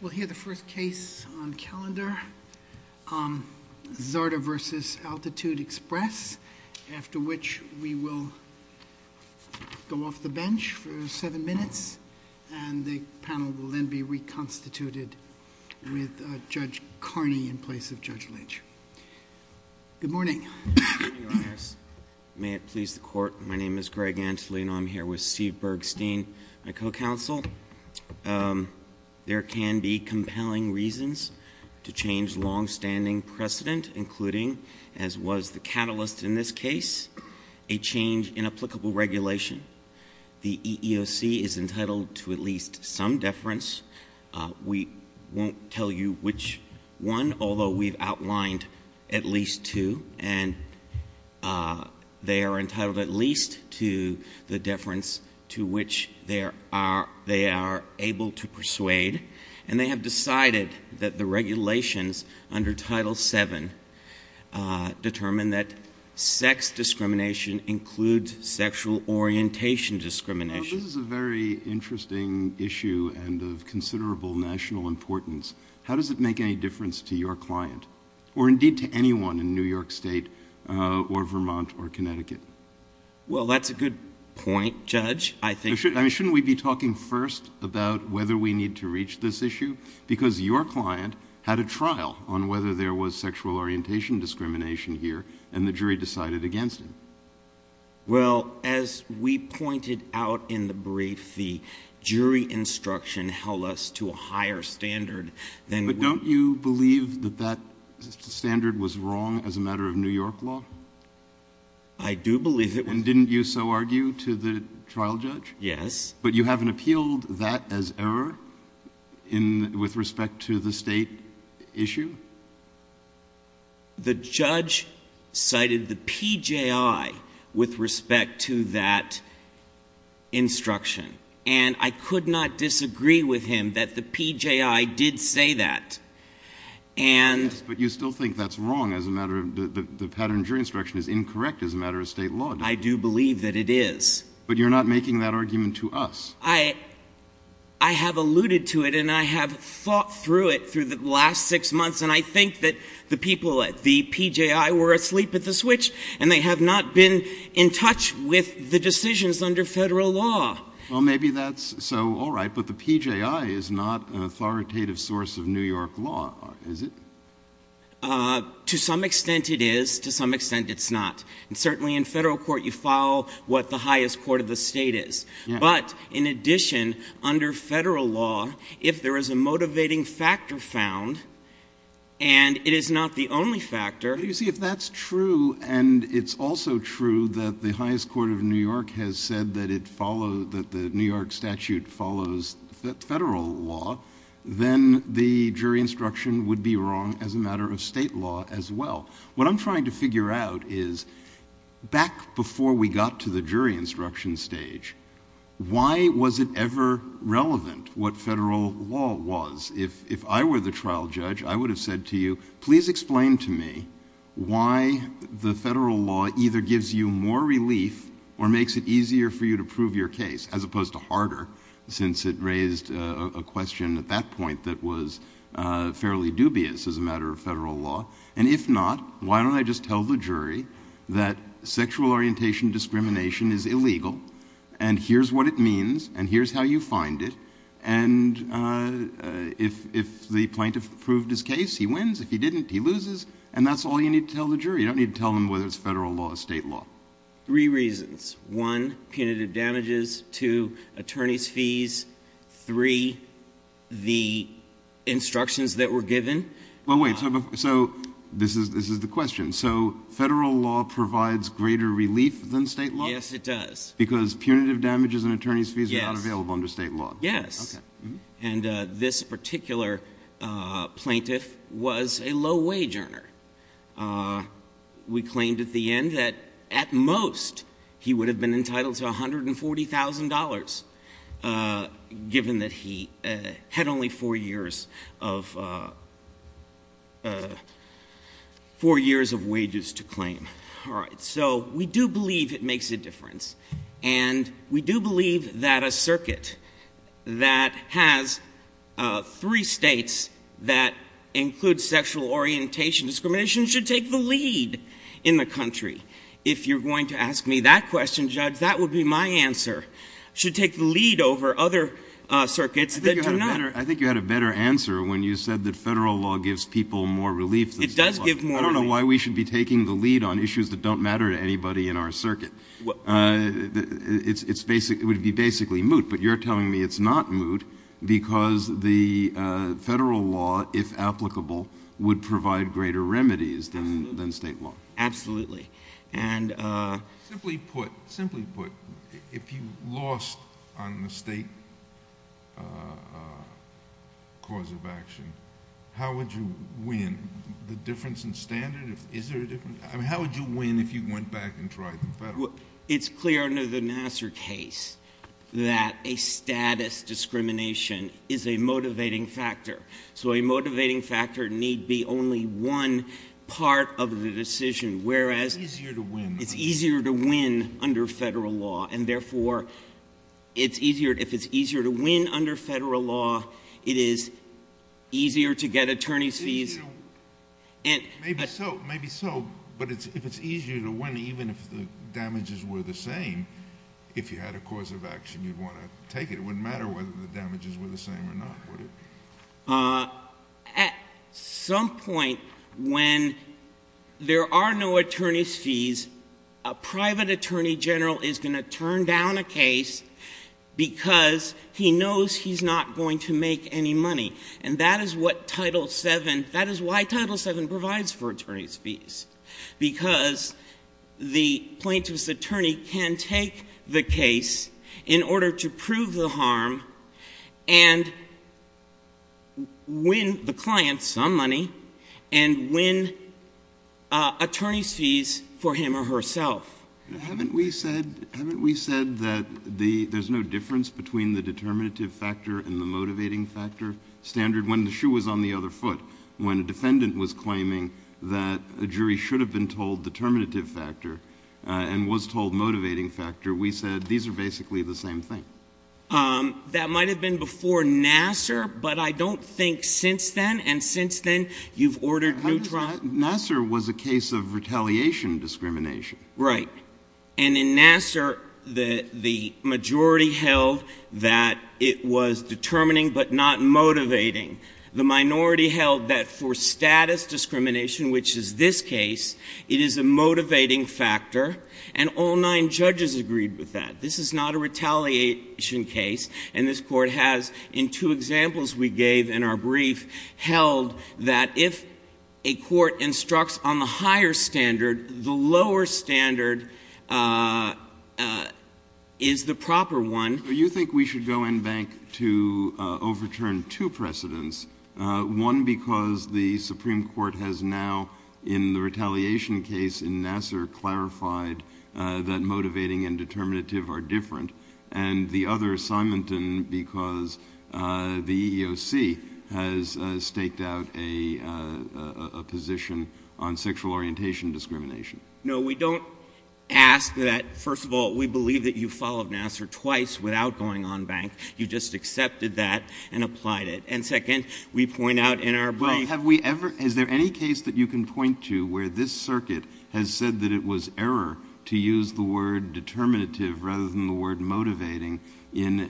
We'll hear the first case on calendar, Zarda v. Altitude Express, after which we will go off the bench for seven minutes and the panel will then be reconstituted with Judge Carney in place of Judge Lynch. Good morning, Your Honors. May it please the Court, my name is Greg Antolino. I'm here with Steve Bergstein, my co-counsel. There can be compelling reasons to change longstanding precedent, including, as was the catalyst in this case, a change in applicable regulation. The EEOC is entitled to at least some deference. We won't tell you which one, although we've outlined at least two, and they are entitled at least to the deference to which they are able to persuade. And they have decided that the regulations under Title VII determine that sex discrimination includes sexual orientation discrimination. Well, this is a very interesting issue and of considerable national importance. How does it make any difference to your client, or indeed to anyone in New York State or Vermont or Connecticut? Well, that's a good point, Judge. Shouldn't we be talking first about whether we need to reach this issue? Because your client had a trial on whether there was sexual orientation discrimination here, and the jury decided against it. Well, as we pointed out in the brief, the jury instruction held us to a higher standard than we— But don't you believe that that standard was wrong as a matter of New York law? I do believe it was— And didn't you so argue to the trial judge? Yes. But you haven't appealed that as error with respect to the State issue? The judge cited the PJI with respect to that instruction, and I could not disagree with him that the PJI did say that. And— Yes, but you still think that's wrong as a matter of—the pattern of jury instruction is incorrect as a matter of State law, don't you? I do believe that it is. But you're not making that argument to us. I have alluded to it, and I have thought through it through the last six months, and I think that the people at the PJI were asleep at the switch, and they have not been in touch with the decisions under Federal law. Well, maybe that's so all right, but the PJI is not an authoritative source of New York law, is it? To some extent, it is. To some extent, it's not. And certainly in Federal court, you follow what the highest court of the State is. But in addition, under Federal law, if there is a motivating factor found, and it is not the only factor— the jury instruction would be wrong as a matter of State law as well. What I'm trying to figure out is, back before we got to the jury instruction stage, why was it ever relevant what Federal law was? If I were the trial judge, I would have said to you, please explain to me why the Federal law either gives you more relief or makes it easier for you to prove your case, as opposed to harder, since it raised a question at that point that was fairly dubious as a matter of Federal law. And if not, why don't I just tell the jury that sexual orientation discrimination is illegal, and here's what it means, and here's how you find it. And if the plaintiff proved his case, he wins. If he didn't, he loses. And that's all you need to tell the jury. You don't need to tell them whether it's Federal law or State law. Three reasons. One, punitive damages. Two, attorney's fees. Three, the instructions that were given. Well, wait. So this is the question. So Federal law provides greater relief than State law? Yes, it does. Because punitive damages and attorney's fees are not available under State law. Yes. And this particular plaintiff was a low-wage earner. We claimed at the end that, at most, he would have been entitled to $140,000, given that he had only four years of wages to claim. All right. So we do believe it makes a difference. And we do believe that a circuit that has three states that include sexual orientation discrimination should take the lead in the country. If you're going to ask me that question, Judge, that would be my answer, should take the lead over other circuits that do not. I think you had a better answer when you said that Federal law gives people more relief than State law. It does give more relief. I don't know why we should be taking the lead on issues that don't matter to anybody in our circuit. It would be basically moot. But you're telling me it's not moot because the Federal law, if applicable, would provide greater remedies than State law. Absolutely. Simply put, if you lost on the State cause of action, how would you win? The difference in standard? Is there a difference? I mean, how would you win if you went back and tried the Federal? It's clear under the Nassar case that a status discrimination is a motivating factor. So a motivating factor need be only one part of the decision. It's easier to win. It's easier to win under Federal law. And, therefore, if it's easier to win under Federal law, it is easier to get attorney's fees. Maybe so, but if it's easier to win, even if the damages were the same, if you had a cause of action, you'd want to take it. It wouldn't matter whether the damages were the same or not, would it? At some point when there are no attorney's fees, a private attorney general is going to turn down a case because he knows he's not going to make any money. And that is what Title VII, that is why Title VII provides for attorney's fees, because the plaintiff's attorney can take the case in order to prove the harm and win the client some money and win attorney's fees for him or herself. Haven't we said that there's no difference between the determinative factor and the motivating factor standard? When the shoe was on the other foot, when a defendant was claiming that a jury should have been told determinative factor and was told motivating factor, we said these are basically the same thing. That might have been before Nassar, but I don't think since then, and since then you've ordered new trials. Nassar was a case of retaliation discrimination. Right. And in Nassar, the majority held that it was determining but not motivating. The minority held that for status discrimination, which is this case, it is a motivating factor, and all nine judges agreed with that. This is not a retaliation case. And this Court has, in two examples we gave in our brief, held that if a court instructs on the higher standard, the lower standard is the proper one. Do you think we should go in bank to overturn two precedents, one because the Supreme Court has now, in the retaliation case in Nassar, clarified that motivating and determinative are different, and the other, Simonton, because the EEOC has staked out a position on sexual orientation discrimination? No, we don't ask that. First of all, we believe that you followed Nassar twice without going on bank. You just accepted that and applied it. And second, we point out in our brief— Well, have we ever—is there any case that you can point to where this circuit has said that it was error to use the word determinative rather than the word motivating in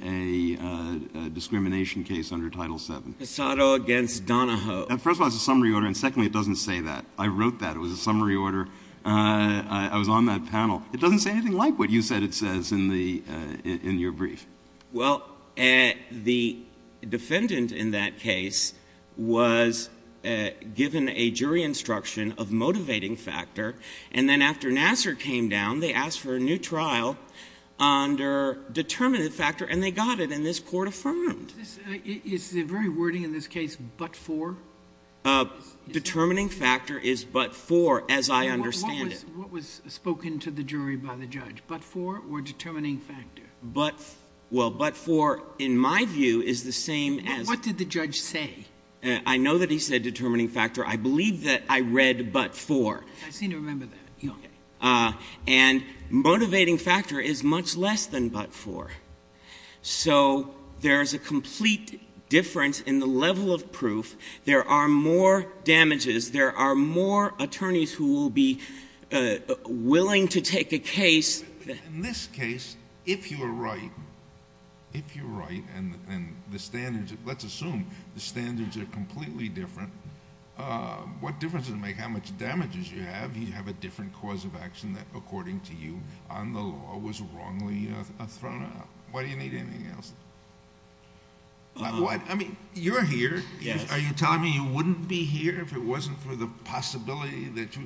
a discrimination case under Title VII? Cassato against Donahoe. First of all, it's a summary order, and secondly, it doesn't say that. I wrote that. It was a summary order. I was on that panel. It doesn't say anything like what you said it says in your brief. Well, the defendant in that case was given a jury instruction of motivating factor, and then after Nassar came down, they asked for a new trial under determinative factor, and they got it, and this Court affirmed. Is the very wording in this case, but for? Determining factor is but for, as I understand it. What was spoken to the jury by the judge, but for or determining factor? Well, but for, in my view, is the same as— What did the judge say? I know that he said determining factor. I believe that I read but for. I seem to remember that. Okay. And motivating factor is much less than but for. So there's a complete difference in the level of proof. There are more damages. There are more attorneys who will be willing to take a case— In this case, if you're right, if you're right, and the standards—let's assume the standards are completely different, what difference does it make how much damages you have? You have a different cause of action that, according to you, on the law, was wrongly thrown out. Why do you need anything else? I mean, you're here. Are you telling me you wouldn't be here if it wasn't for the possibility that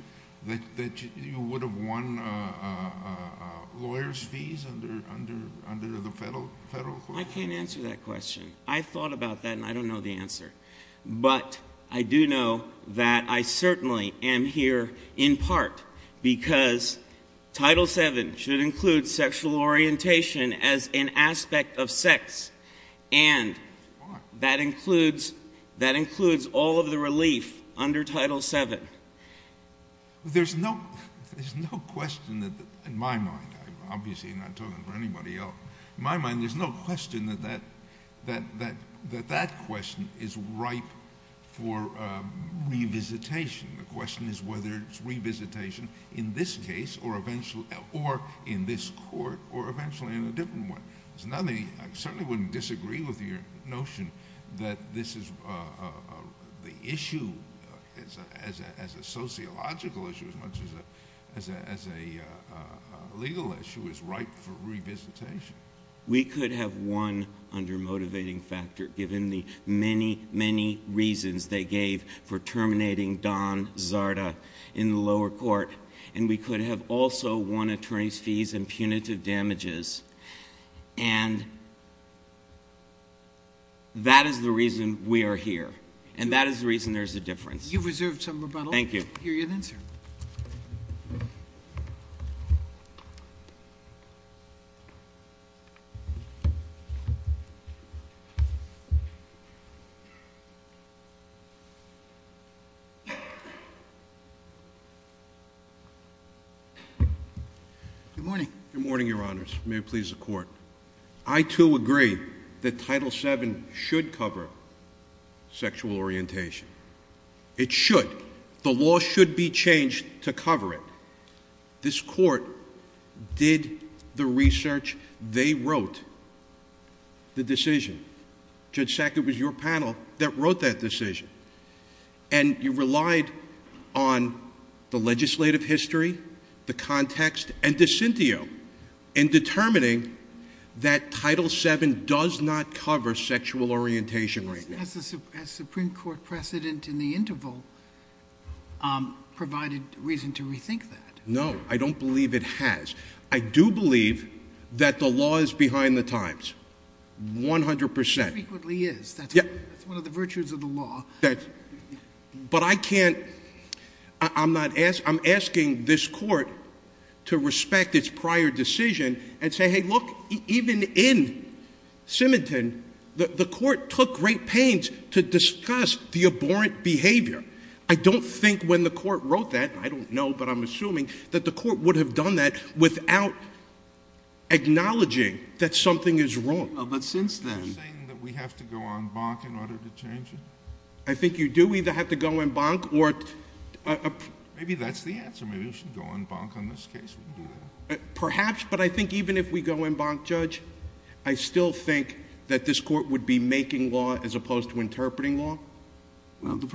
you would have won lawyers' fees under the federal court? I can't answer that question. I thought about that, and I don't know the answer. But I do know that I certainly am here in part because Title VII should include sexual orientation as an aspect of sex, and that includes all of the relief under Title VII. There's no question that—in my mind. I'm obviously not talking for anybody else. In my mind, there's no question that that question is ripe for revisitation. The question is whether it's revisitation in this case or in this court or eventually in a different one. I certainly wouldn't disagree with your notion that this is—the issue as a sociological issue as much as a legal issue is ripe for revisitation. We could have won under motivating factor given the many, many reasons they gave for terminating Don Zarda in the lower court. And we could have also won attorneys' fees and punitive damages. And that is the reason we are here, and that is the reason there's a difference. You reserved some rebuttal. Thank you. I'll hear you then, sir. Good morning. Good morning, Your Honors. May it please the Court. I, too, agree that Title VII should cover sexual orientation. It should. The law should be changed to cover it. This court did the research. They wrote the decision. Judge Sackett was your panel that wrote that decision. And you relied on the legislative history, the context, and Dicintio in determining that Title VII does not cover sexual orientation right now. Has the Supreme Court precedent in the interval provided reason to rethink that? No, I don't believe it has. I do believe that the law is behind the times, 100 percent. It frequently is. That's one of the virtues of the law. But I can't—I'm asking this court to respect its prior decision and say, Hey, look, even in Simington, the court took great pains to discuss the abhorrent behavior. I don't think when the court wrote that—I don't know, but I'm assuming—that the court would have done that without acknowledging that something is wrong. Are you saying that we have to go en banc in order to change it? I think you do either have to go en banc or— Maybe that's the answer. Maybe we should go en banc on this case. Perhaps, but I think even if we go en banc, Judge, I still think that this court would be making law as opposed to interpreting law. The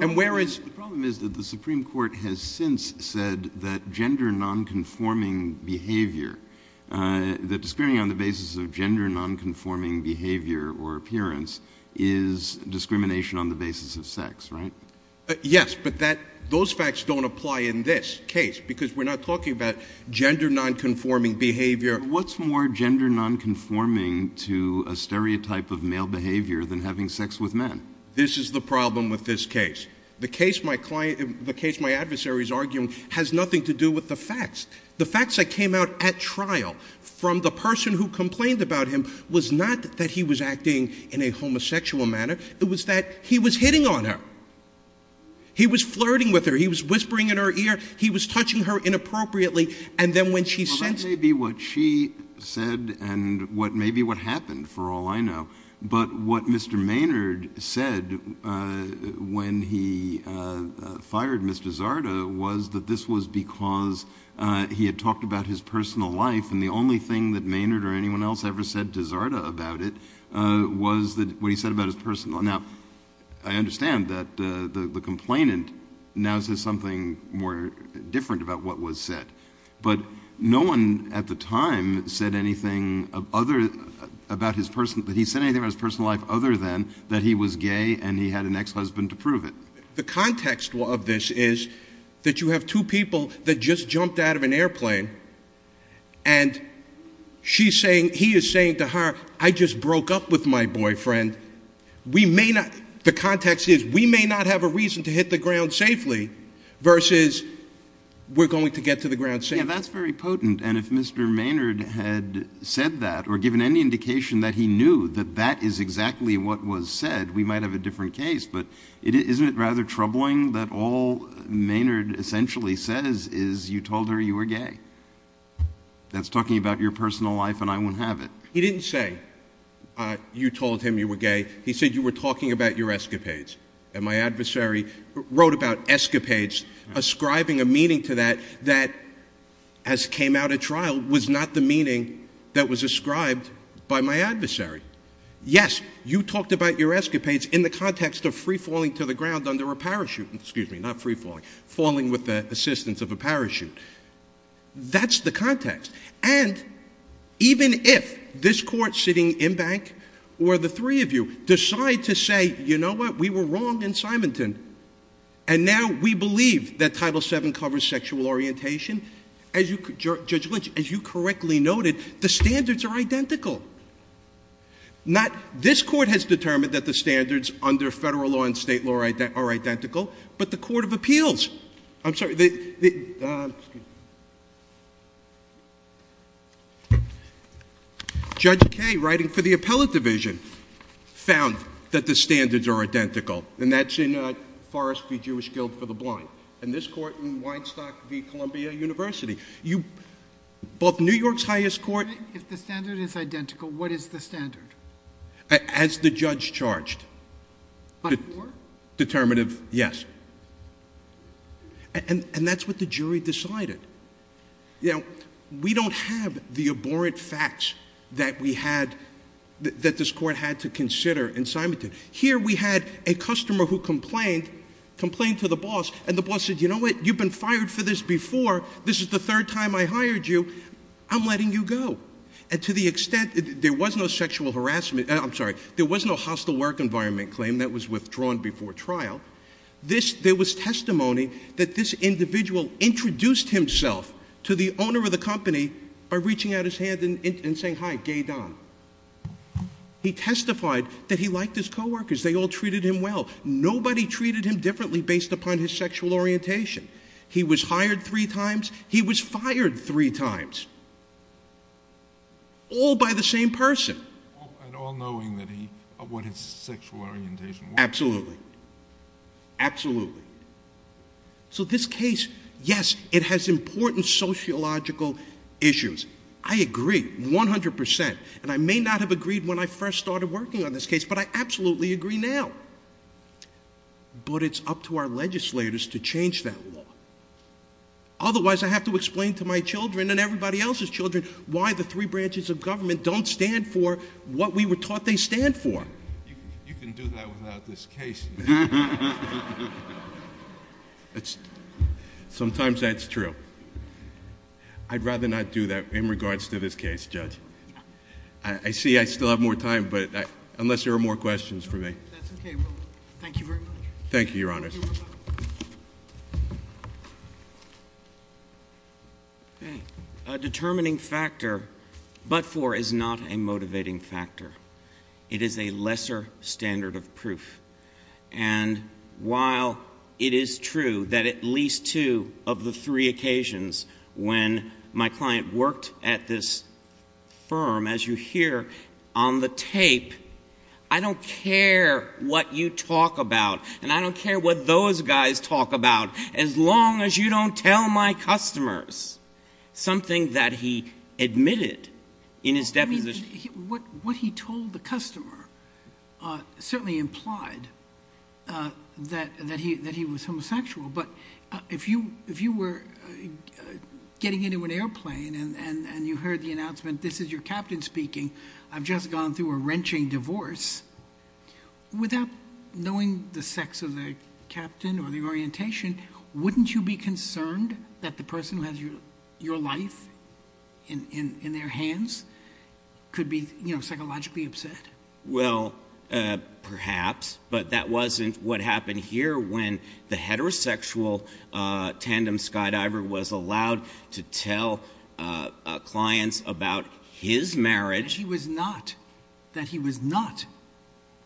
problem is that the Supreme Court has since said that gender nonconforming behavior, that discrimination on the basis of gender nonconforming behavior or appearance is discrimination on the basis of sex, right? Yes, but those facts don't apply in this case because we're not talking about gender nonconforming behavior. What's more gender nonconforming to a stereotype of male behavior than having sex with men? This is the problem with this case. The case my client—the case my adversary is arguing has nothing to do with the facts. The facts that came out at trial from the person who complained about him was not that he was acting in a homosexual manner. It was that he was hitting on her. He was flirting with her. He was whispering in her ear. He was touching her inappropriately, and then when she said— This may be what she said and what may be what happened for all I know, but what Mr. Maynard said when he fired Ms. DeSarda was that this was because he had talked about his personal life, and the only thing that Maynard or anyone else ever said to DeSarda about it was what he said about his personal— Now, I understand that the complainant now says something more different about what was said, but no one at the time said anything other—about his personal— that he said anything about his personal life other than that he was gay and he had an ex-husband to prove it. The context of this is that you have two people that just jumped out of an airplane, and she's saying—he is saying to her, I just broke up with my boyfriend. We may not—the context is we may not have a reason to hit the ground safely versus we're going to get to the ground safely. Yeah, that's very potent, and if Mr. Maynard had said that or given any indication that he knew that that is exactly what was said, we might have a different case, but isn't it rather troubling that all Maynard essentially says is you told her you were gay? That's talking about your personal life, and I won't have it. He didn't say you told him you were gay. He said you were talking about your escapades, and my adversary wrote about escapades, ascribing a meaning to that that, as came out at trial, was not the meaning that was ascribed by my adversary. Yes, you talked about your escapades in the context of free-falling to the ground under a parachute— excuse me, not free-falling, falling with the assistance of a parachute. That's the context, and even if this Court sitting in bank or the three of you decide to say, you know what, we were wrong in Symington, and now we believe that Title VII covers sexual orientation, Judge Lynch, as you correctly noted, the standards are identical. This Court has determined that the standards under Federal law and State law are identical, but the Court of Appeals—I'm sorry, Judge Kaye, writing for the Appellate Division, found that the standards are identical, and that's in Forrest v. Jewish Guilt for the Blind, and this Court in Weinstock v. Columbia University. Both New York's highest court— If the standard is identical, what is the standard? As the judge charged. But for? Determinative yes. And that's what the jury decided. You know, we don't have the abhorrent facts that this Court had to consider in Symington. Here we had a customer who complained to the boss, and the boss said, you know what, you've been fired for this before. This is the third time I hired you. I'm letting you go. And to the extent—there was no sexual harassment—I'm sorry, there was no hostile work environment claim that was withdrawn before trial. There was testimony that this individual introduced himself to the owner of the company by reaching out his hand and saying, hi, Gay Don. He testified that he liked his coworkers. They all treated him well. Nobody treated him differently based upon his sexual orientation. He was hired three times. He was fired three times. All by the same person. All knowing what his sexual orientation was. Absolutely. Absolutely. So this case, yes, it has important sociological issues. I agree 100%. And I may not have agreed when I first started working on this case, but I absolutely agree now. But it's up to our legislators to change that law. Otherwise, I have to explain to my children and everybody else's children why the three branches of government don't stand for what we were taught they stand for. You can do that without this case. Sometimes that's true. I'd rather not do that in regards to this case, Judge. I see I still have more time, but unless there are more questions for me. That's okay. Thank you very much. Thank you, Your Honors. Okay. A determining factor but for is not a motivating factor. It is a lesser standard of proof. And while it is true that at least two of the three occasions when my client worked at this firm, as you hear on the tape, I don't care what you talk about, and I don't care what those guys talk about, as long as you don't tell my customers something that he admitted in his deposition. What he told the customer certainly implied that he was homosexual. But if you were getting into an airplane and you heard the announcement, this is your captain speaking, I've just gone through a wrenching divorce, without knowing the sex of the captain or the orientation, wouldn't you be concerned that the person who has your life in their hands could be psychologically upset? Well, perhaps, but that wasn't what happened here when the heterosexual tandem skydiver was allowed to tell clients about his marriage. That he was not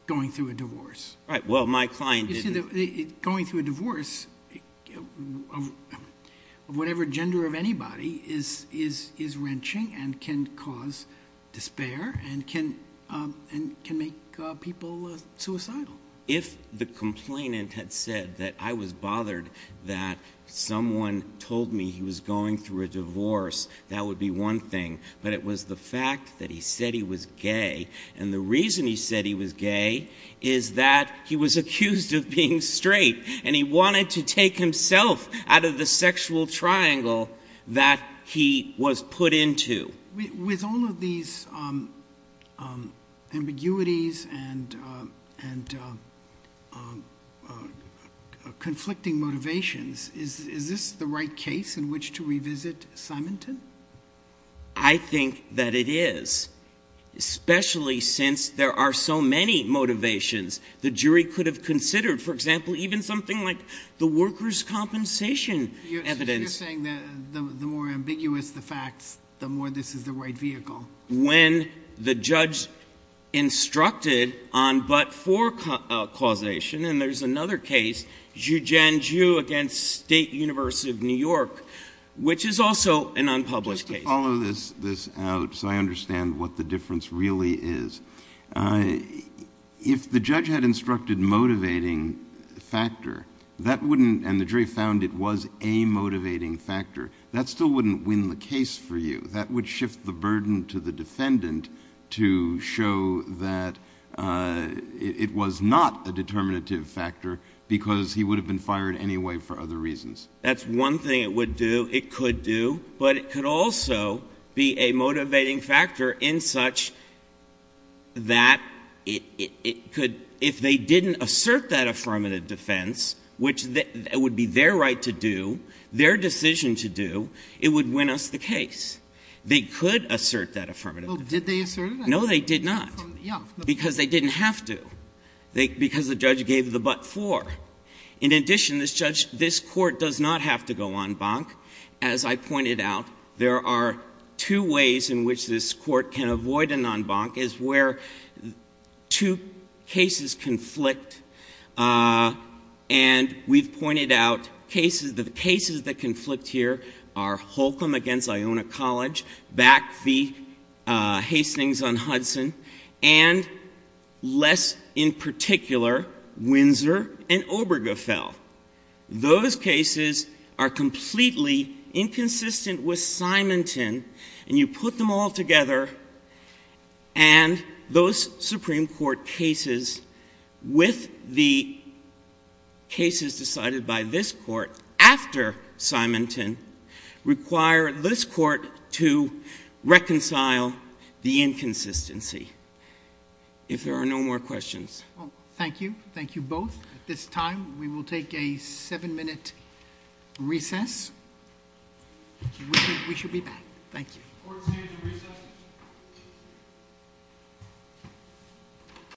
going through a divorce. Right. Well, my client didn't. Going through a divorce of whatever gender of anybody is wrenching and can cause despair and can make people suicidal. If the complainant had said that I was bothered that someone told me he was going through a divorce, that would be one thing, but it was the fact that he said he was gay, and the reason he said he was gay is that he was accused of being straight, and he wanted to take himself out of the sexual triangle that he was put into. With all of these ambiguities and conflicting motivations, is this the right case in which to revisit Symington? I think that it is, especially since there are so many motivations. The jury could have considered, for example, even something like the workers' compensation evidence. So you're saying the more ambiguous the facts, the more this is the right vehicle. When the judge instructed on but-for causation, and there's another case, Zhu Jianzhu against State University of New York, which is also an unpublished case. Just to follow this out so I understand what the difference really is, if the judge had instructed motivating factor and the jury found it was a motivating factor, that still wouldn't win the case for you. That would shift the burden to the defendant to show that it was not a determinative factor because he would have been fired anyway for other reasons. That's one thing it would do. It could do. But it could also be a motivating factor in such that if they didn't assert that affirmative defense, which would be their right to do, their decision to do, it would win us the case. They could assert that affirmative defense. Well, did they assert it? No, they did not. Because they didn't have to. Because the judge gave the but-for. In addition, this court does not have to go en banc. As I pointed out, there are two ways in which this court can avoid an en banc, is where two cases conflict. And we've pointed out the cases that conflict here are Holcomb against Iona College, back the Hastings on Hudson, and less in particular, Windsor and Obergefell. Those cases are completely inconsistent with Simonton, and you put them all together, and those Supreme Court cases with the cases decided by this court after Simonton require this court to reconcile the inconsistency. If there are no more questions. Thank you. Thank you both. At this time, we will take a seven-minute recess. We should be back. Thank you. Court is in recess.